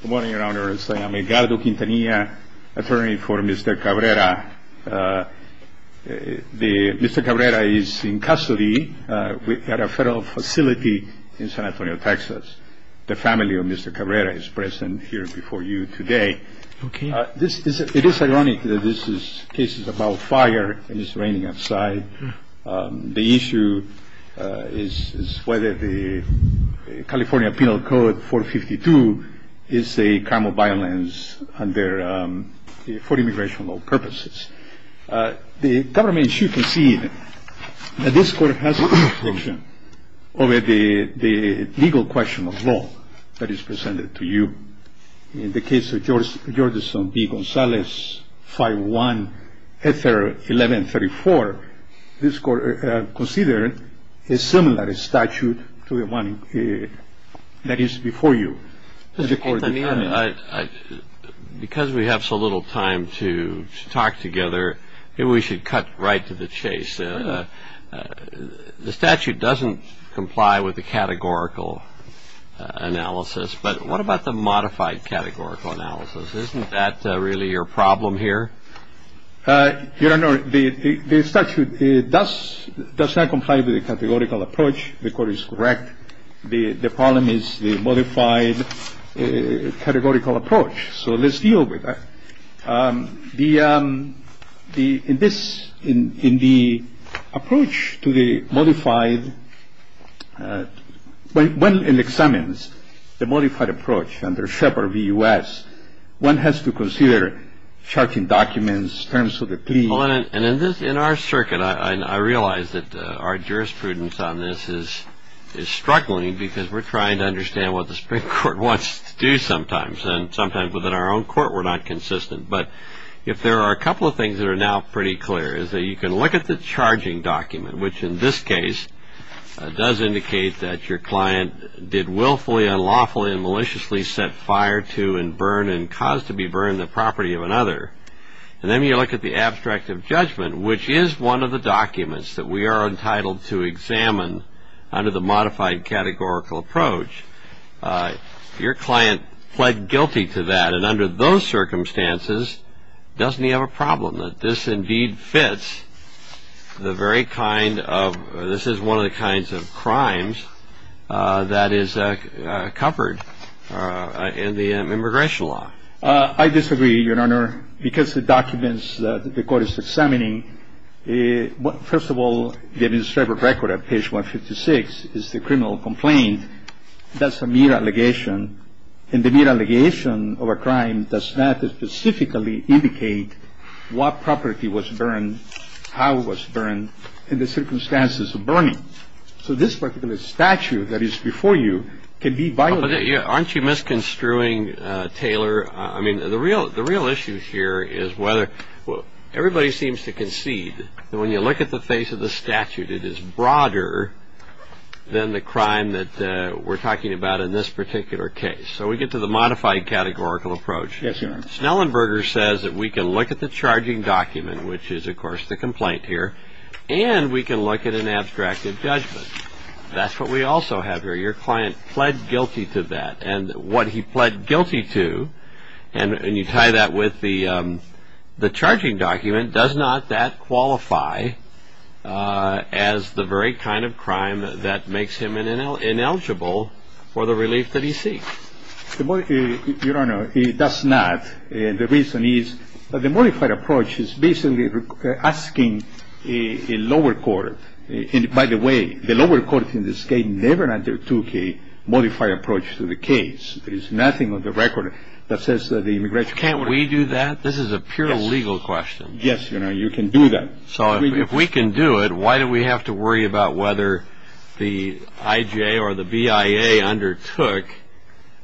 Good morning, Your Honor. I'm Edgardo Quintanilla, attorney for Mr. Cabrera. Mr. Cabrera is in custody at a federal facility in San Antonio, Texas. The family of Mr. Cabrera is present here before you today. It is ironic that this case is about fire and it's raining outside. The issue is whether the California Penal Code 452 is a crime of violence for immigration purposes. The government should concede that this court has jurisdiction over the legal question of law that is presented to you. In the case of Georgeson v. Gonzalez, 5-1-1134, this court considered a similar statute to the one that is before you. Mr. Quintanilla, because we have so little time to talk together, maybe we should cut right to the chase. The statute doesn't comply with the categorical analysis, but what about the modified categorical analysis? Isn't that really your problem here? Your Honor, the statute does not comply with the categorical approach. The court is correct. The problem is the modified categorical approach. So let's deal with that. In the approach to the modified, when one examines the modified approach under Shepard v. U.S., one has to consider charging documents, terms of the plea. In our circuit, I realize that our jurisprudence on this is struggling because we're trying to understand what the Supreme Court wants to do sometimes. And sometimes within our own court, we're not consistent. But if there are a couple of things that are now pretty clear is that you can look at the charging document, which in this case does indicate that your client did willfully, unlawfully, and maliciously set fire to and burn and cause to be burned the property of another. And then you look at the abstract of judgment, which is one of the documents that we are entitled to examine under the modified categorical approach. Your client pled guilty to that. And under those circumstances, doesn't he have a problem that this indeed fits the very kind of, this is one of the kinds of crimes that is covered in the immigration law? I disagree, Your Honor, because the documents that the court is examining, first of all, the administrative record at page 156 is the criminal complaint. That's a mere allegation. And the mere allegation of a crime does not specifically indicate what property was burned, how it was burned, and the circumstances of burning. So this particular statute that is before you can be violated. Aren't you misconstruing, Taylor? I mean, the real issue here is whether everybody seems to concede that when you look at the face of the statute, it is broader than the crime that we're talking about in this particular case. So we get to the modified categorical approach. Yes, Your Honor. Snellenberger says that we can look at the charging document, which is, of course, the complaint here, and we can look at an abstract of judgment. That's what we also have here. Your client pled guilty to that. And what he pled guilty to, and you tie that with the charging document, does not that qualify as the very kind of crime that makes him ineligible for the relief that he seeks. Your Honor, it does not. The reason is the modified approach is basically asking a lower court. And, by the way, the lower court in this case never undertook a modified approach to the case. There is nothing on the record that says the immigration court. Can't we do that? This is a pure legal question. Yes, Your Honor. You can do that. So if we can do it, why do we have to worry about whether the IJ or the BIA undertook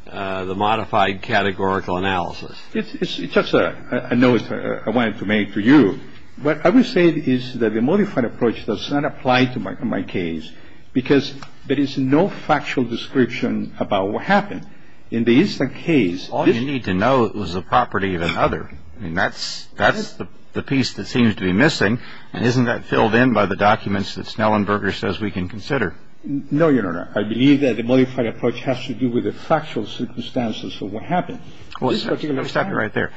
the modified categorical analysis? It's just a note I wanted to make to you. What I would say is that the modified approach does not apply to my case, because there is no factual description about what happened. In the instant case, this — All you need to know is the property of another. I mean, that's the piece that seems to be missing. And isn't that filled in by the documents that Snellenberger says we can consider? No, Your Honor. I believe that the modified approach has to do with the factual circumstances of what happened. Well, let me stop you right there.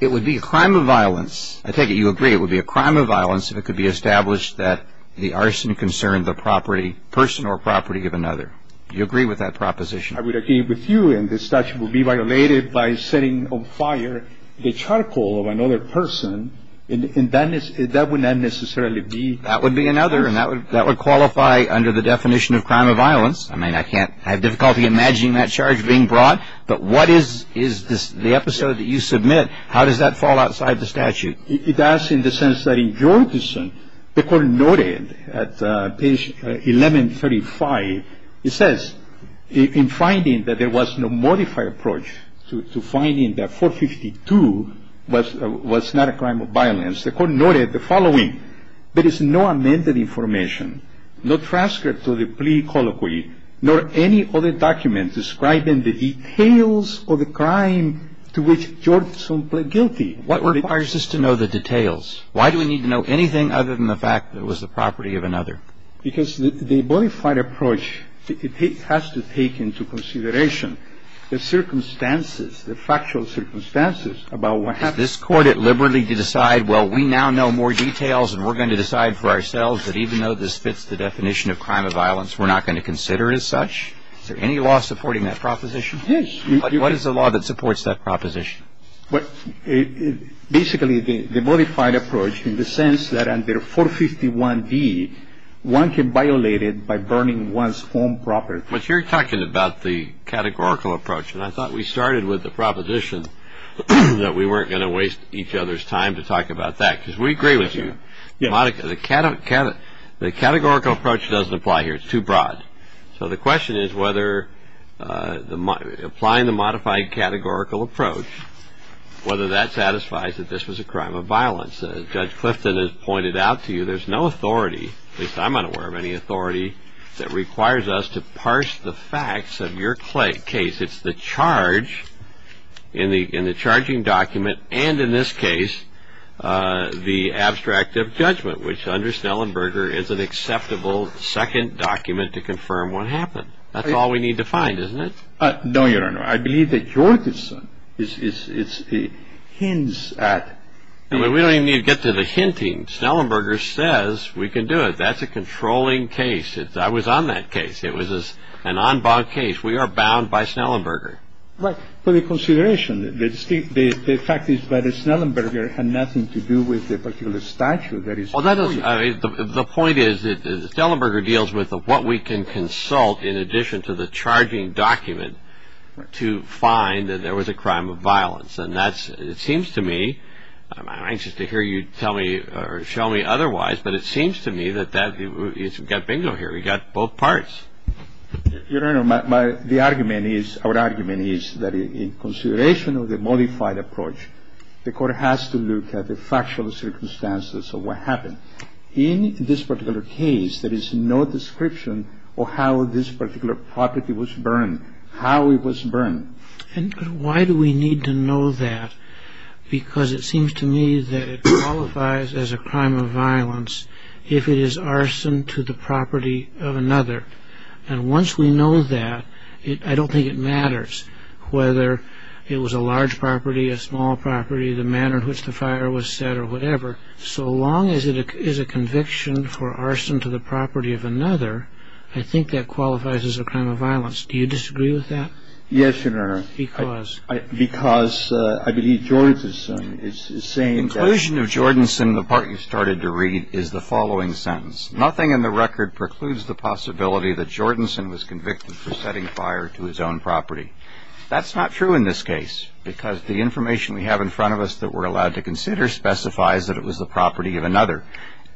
It would be a crime of violence — I take it you agree it would be a crime of violence if it could be established that the arson concerned the property — person or property of another. Do you agree with that proposition? I would agree with you. And the statute would be violated by setting on fire the charcoal of another person. And that would not necessarily be — That would be another, and that would qualify under the definition of crime of violence. I mean, I can't — I have difficulty imagining that charge being brought. But what is the episode that you submit? How does that fall outside the statute? It does in the sense that in Jorgensen, the Court noted at page 1135, it says, in finding that there was no modified approach to finding that 452 was not a crime of violence, the Court noted the following. There is no amended information, no transcript to the plea colloquy, nor any other document describing the details of the crime to which Jorgensen pled guilty. What requires us to know the details? Why do we need to know anything other than the fact that it was the property of another? Because the modified approach, it has to take into consideration the circumstances, the factual circumstances about what happened. Did this Court deliberately decide, well, we now know more details and we're going to decide for ourselves that even though this fits the definition of crime of violence, we're not going to consider it as such? Is there any law supporting that proposition? Yes. What is the law that supports that proposition? Basically, the modified approach in the sense that under 451D, one can violate it by burning one's own property. But you're talking about the categorical approach, and I thought we started with the proposition that we weren't going to waste each other's time to talk about that, because we agree with you. The categorical approach doesn't apply here. It's too broad. So the question is whether applying the modified categorical approach, whether that satisfies that this was a crime of violence. Judge Clifton has pointed out to you there's no authority, at least I'm unaware of any authority, that requires us to parse the facts of your case. It's the charge in the charging document, and in this case, the abstract of judgment, which under Snellenberger is an acceptable second document to confirm what happened. That's all we need to find, isn't it? No, Your Honor. I believe that yours hints at... We don't even need to get to the hinting. Snellenberger says we can do it. That's a controlling case. I was on that case. It was an en banc case. We are bound by Snellenberger. Right. For your consideration, the fact is that Snellenberger had nothing to do with the particular statute that is... The point is that Snellenberger deals with what we can consult in addition to the charging document to find that there was a crime of violence. And it seems to me, I'm anxious to hear you tell me or show me otherwise, but it seems to me that you've got bingo here. We've got both parts. Your Honor, the argument is, our argument is that in consideration of the modified approach, the Court has to look at the factual circumstances of what happened. In this particular case, there is no description of how this particular property was burned, how it was burned. And why do we need to know that? Because it seems to me that it qualifies as a crime of violence if it is arson to the property of another. And once we know that, I don't think it matters whether it was a large property, a small property, the manner in which the fire was set or whatever. So long as it is a conviction for arson to the property of another, I think that qualifies as a crime of violence. Do you disagree with that? Yes, Your Honor. Because? Because I believe Jordanson is saying that... Inclusion of Jordanson, the part you started to read, is the following sentence. Nothing in the record precludes the possibility that Jordanson was convicted for setting fire to his own property. That's not true in this case because the information we have in front of us that we're allowed to consider specifies that it was the property of another.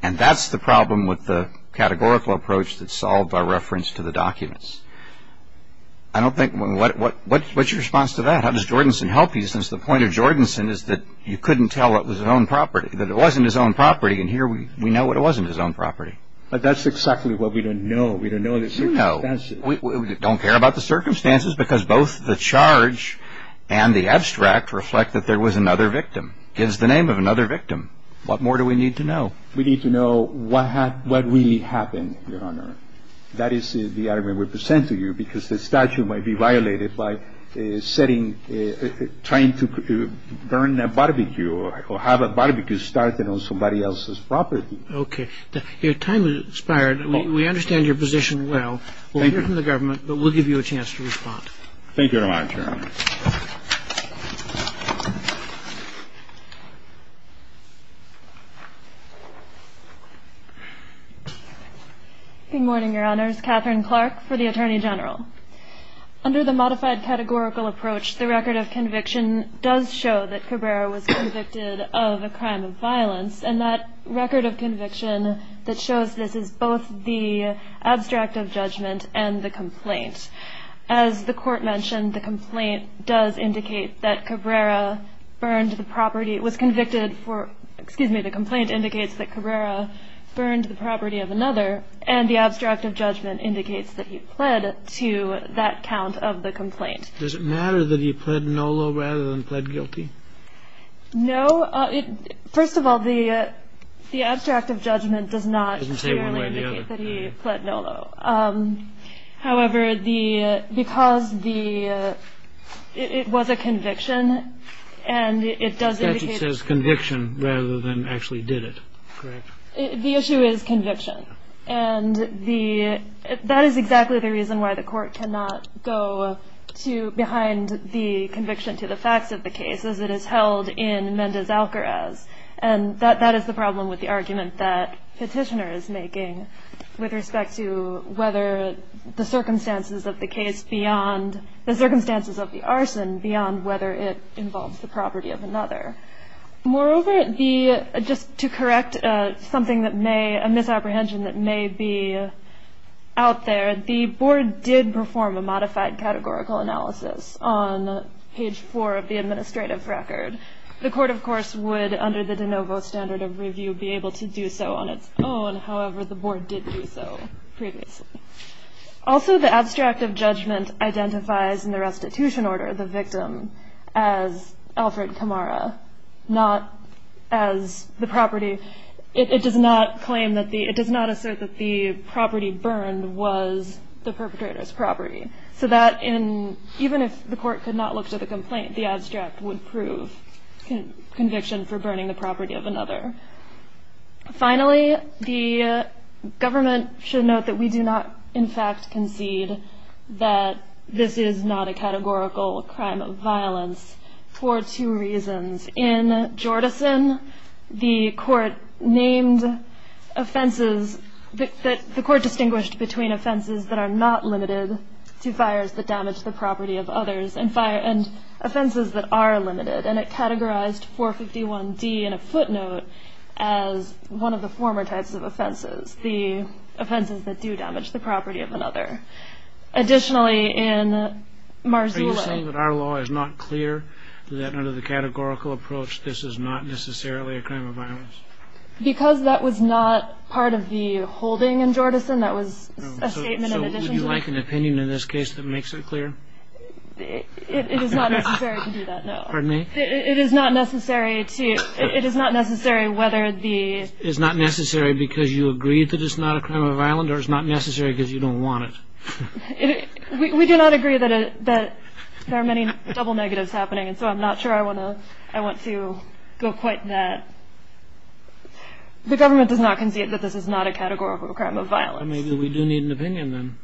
And that's the problem with the categorical approach that's solved by reference to the documents. I don't think... What's your response to that? How does Jordanson help you since the point of Jordanson is that you couldn't tell it was his own property, and here we know it wasn't his own property. But that's exactly what we don't know. We don't know the circumstances. We don't care about the circumstances because both the charge and the abstract reflect that there was another victim. It gives the name of another victim. What more do we need to know? We need to know what really happened, Your Honor. That is the argument we present to you because the statute might be violated by setting... or have a barbecue started on somebody else's property. Okay. Your time has expired. We understand your position well. We'll hear from the government, but we'll give you a chance to respond. Thank you very much, Your Honor. Good morning, Your Honors. Catherine Clark for the Attorney General. Under the modified categorical approach, the record of conviction does show that Cabrera was convicted of a crime of violence, and that record of conviction that shows this is both the abstract of judgment and the complaint. As the Court mentioned, the complaint does indicate that Cabrera burned the property. It was convicted for, excuse me, the complaint indicates that Cabrera burned the property of another, and the abstract of judgment indicates that he pled to that count of the complaint. Does it matter that he pled NOLO rather than pled guilty? No. First of all, the abstract of judgment does not clearly indicate that he pled NOLO. However, because it was a conviction and it does indicate... The statute says conviction rather than actually did it. Correct. The issue is conviction, and that is exactly the reason why the Court cannot go behind the conviction to the facts of the case, as it is held in Mendez-Alcarez, and that is the problem with the argument that Petitioner is making with respect to whether the circumstances of the case beyond, the circumstances of the arson beyond whether it involves the property of another. Moreover, just to correct something that may, a misapprehension that may be out there, the Board did perform a modified categorical analysis on page four of the administrative record. The Court, of course, would, under the de novo standard of review, be able to do so on its own. However, the Board did do so previously. Also, the abstract of judgment identifies in the restitution order the victim as Alfred Camara, not as the property. It does not claim that the, it does not assert that the property burned was the perpetrator's property. So that in, even if the Court could not look to the complaint, the abstract would prove conviction for burning the property of another. Finally, the government should note that we do not, in fact, concede that this is not a categorical crime of violence for two reasons. In Jordison, the Court named offenses, the Court distinguished between offenses that are not limited to fires that damage the property of others, and offenses that are limited. And it categorized 451D in a footnote as one of the former types of offenses, the offenses that do damage the property of another. Additionally, in Marzulli. Are you saying that our law is not clear, that under the categorical approach, this is not necessarily a crime of violence? Because that was not part of the holding in Jordison. That was a statement in addition to... So would you like an opinion in this case that makes it clear? It is not necessary to do that, no. Pardon me? It is not necessary to... It is not necessary whether the... It's not necessary because you agree that it's not a crime of violence or it's not necessary because you don't want it? We do not agree that there are many double negatives happening, and so I'm not sure I want to go quite that... The government does not concede that this is not a categorical crime of violence. Maybe we do need an opinion then.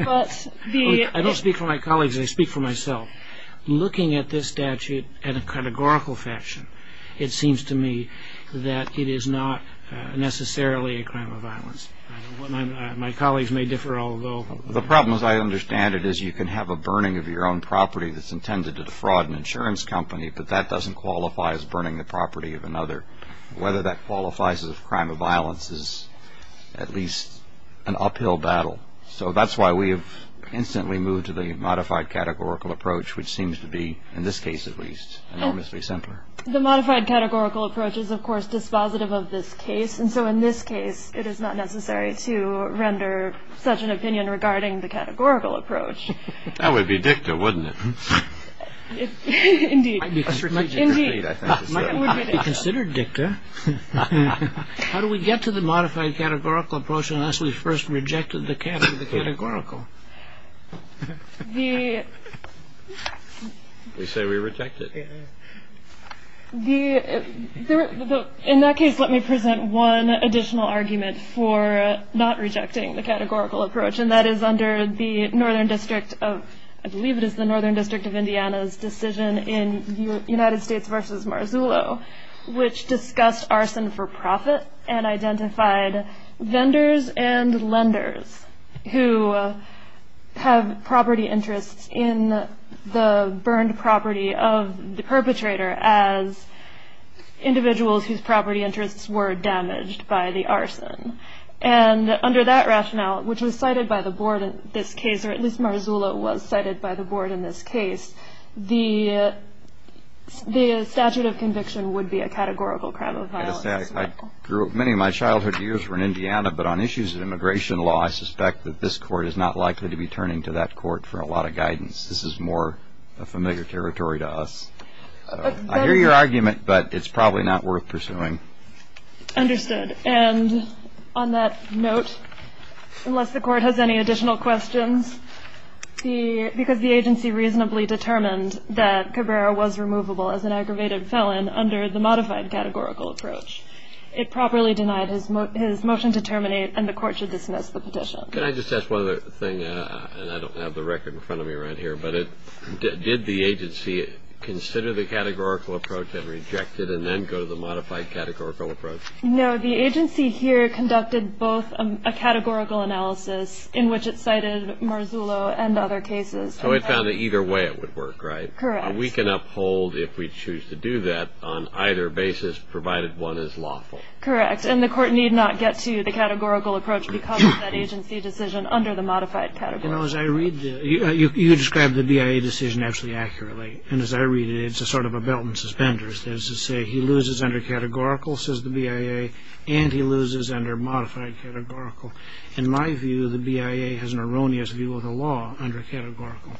I don't speak for my colleagues, I speak for myself. Looking at this statute in a categorical fashion, it seems to me that it is not necessarily a crime of violence. My colleagues may differ, although... The problem, as I understand it, is you can have a burning of your own property that's intended to defraud an insurance company, but that doesn't qualify as burning the property of another. Whether that qualifies as a crime of violence is at least an uphill battle. So that's why we have instantly moved to the modified categorical approach, which seems to be, in this case at least, enormously simpler. The modified categorical approach is, of course, dispositive of this case, and so in this case it is not necessary to render such an opinion regarding the categorical approach. That would be dicta, wouldn't it? Indeed. It might be considered dicta. How do we get to the modified categorical approach unless we first rejected the categorical? The... We say we reject it. The... In that case, let me present one additional argument for not rejecting the categorical approach, and that is under the Northern District of... I believe it is the Northern District of Indiana's decision in the United States v. Marzullo, which discussed arson for profit and identified vendors and lenders who have property interests in the burned property of the perpetrator as individuals whose property interests were damaged by the arson. And under that rationale, which was cited by the board in this case, or at least Marzullo was cited by the board in this case, the statute of conviction would be a categorical crime of violence. Many of my childhood years were in Indiana, but on issues of immigration law I suspect that this court is not likely to be turning to that court for a lot of guidance. This is more familiar territory to us. I hear your argument, but it's probably not worth pursuing. Understood. And on that note, unless the court has any additional questions, because the agency reasonably determined that Cabrera was removable as an aggravated felon under the modified categorical approach, it properly denied his motion to terminate, and the court should dismiss the petition. Can I just ask one other thing? And I don't have the record in front of me right here, but did the agency consider the categorical approach and reject it and then go to the modified categorical approach? No, the agency here conducted both a categorical analysis in which it cited Marzullo and other cases. So it found that either way it would work, right? Correct. We can uphold if we choose to do that on either basis, provided one is lawful. Correct. And the court need not get to the categorical approach because of that agency decision under the modified categorical approach. You know, as I read this, you describe the BIA decision absolutely accurately, and as I read it, it's sort of a belt and suspenders. There's a saying, he loses under categorical, says the BIA, and he loses under modified categorical. In my view, the BIA has an erroneous view of the law under categorical.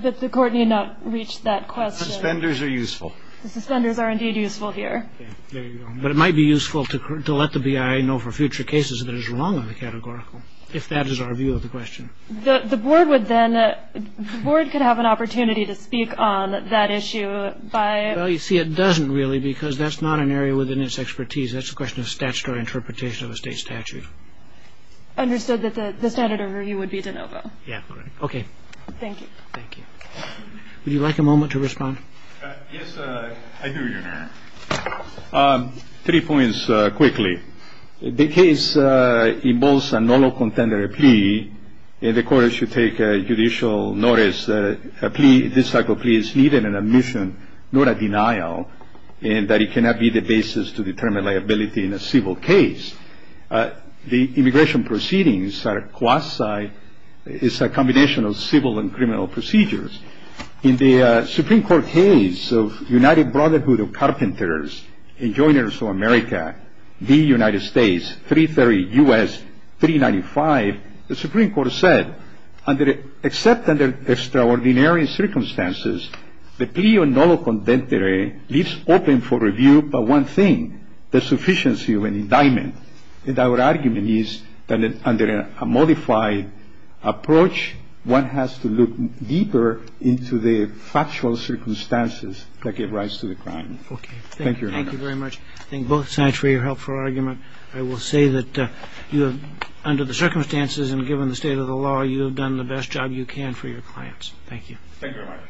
But the court need not reach that question. The suspenders are useful. The suspenders are indeed useful here. There you go. But it might be useful to let the BIA know for future cases that it's wrong on the categorical, if that is our view of the question. The board would then, the board could have an opportunity to speak on that issue by... Well, you see, it doesn't really because that's not an area within its expertise. That's a question of statutory interpretation of a state statute. Understood that the standard of review would be de novo. Yeah. Okay. Thank you. Thank you. Would you like a moment to respond? Yes, I do, Your Honor. Three points quickly. The case involves a null or contender plea, and the court should take judicial notice that a plea, this type of plea, is needed in admission, not a denial, and that it cannot be the basis to determine liability in a civil case. The immigration proceedings are quasi... It's a combination of civil and criminal procedures. In the Supreme Court case of United Brotherhood of Carpenters and Joiners of America, the United States, 330 U.S., 395, the Supreme Court said, except under extraordinary circumstances, the plea of null or contender leaves open for review but one thing, the sufficiency of an indictment. And our argument is that under a modified approach, one has to look deeper into the factual circumstances that give rise to the crime. Okay. Thank you, Your Honor. Thank you very much. I thank both sides for your helpful argument. I will say that under the circumstances and given the state of the law, you have done the best job you can for your clients. Thank you. Thank you, Your Honor.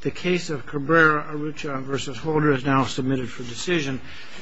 The case of Cabrera, Arrucha v. Holder is now submitted for decision.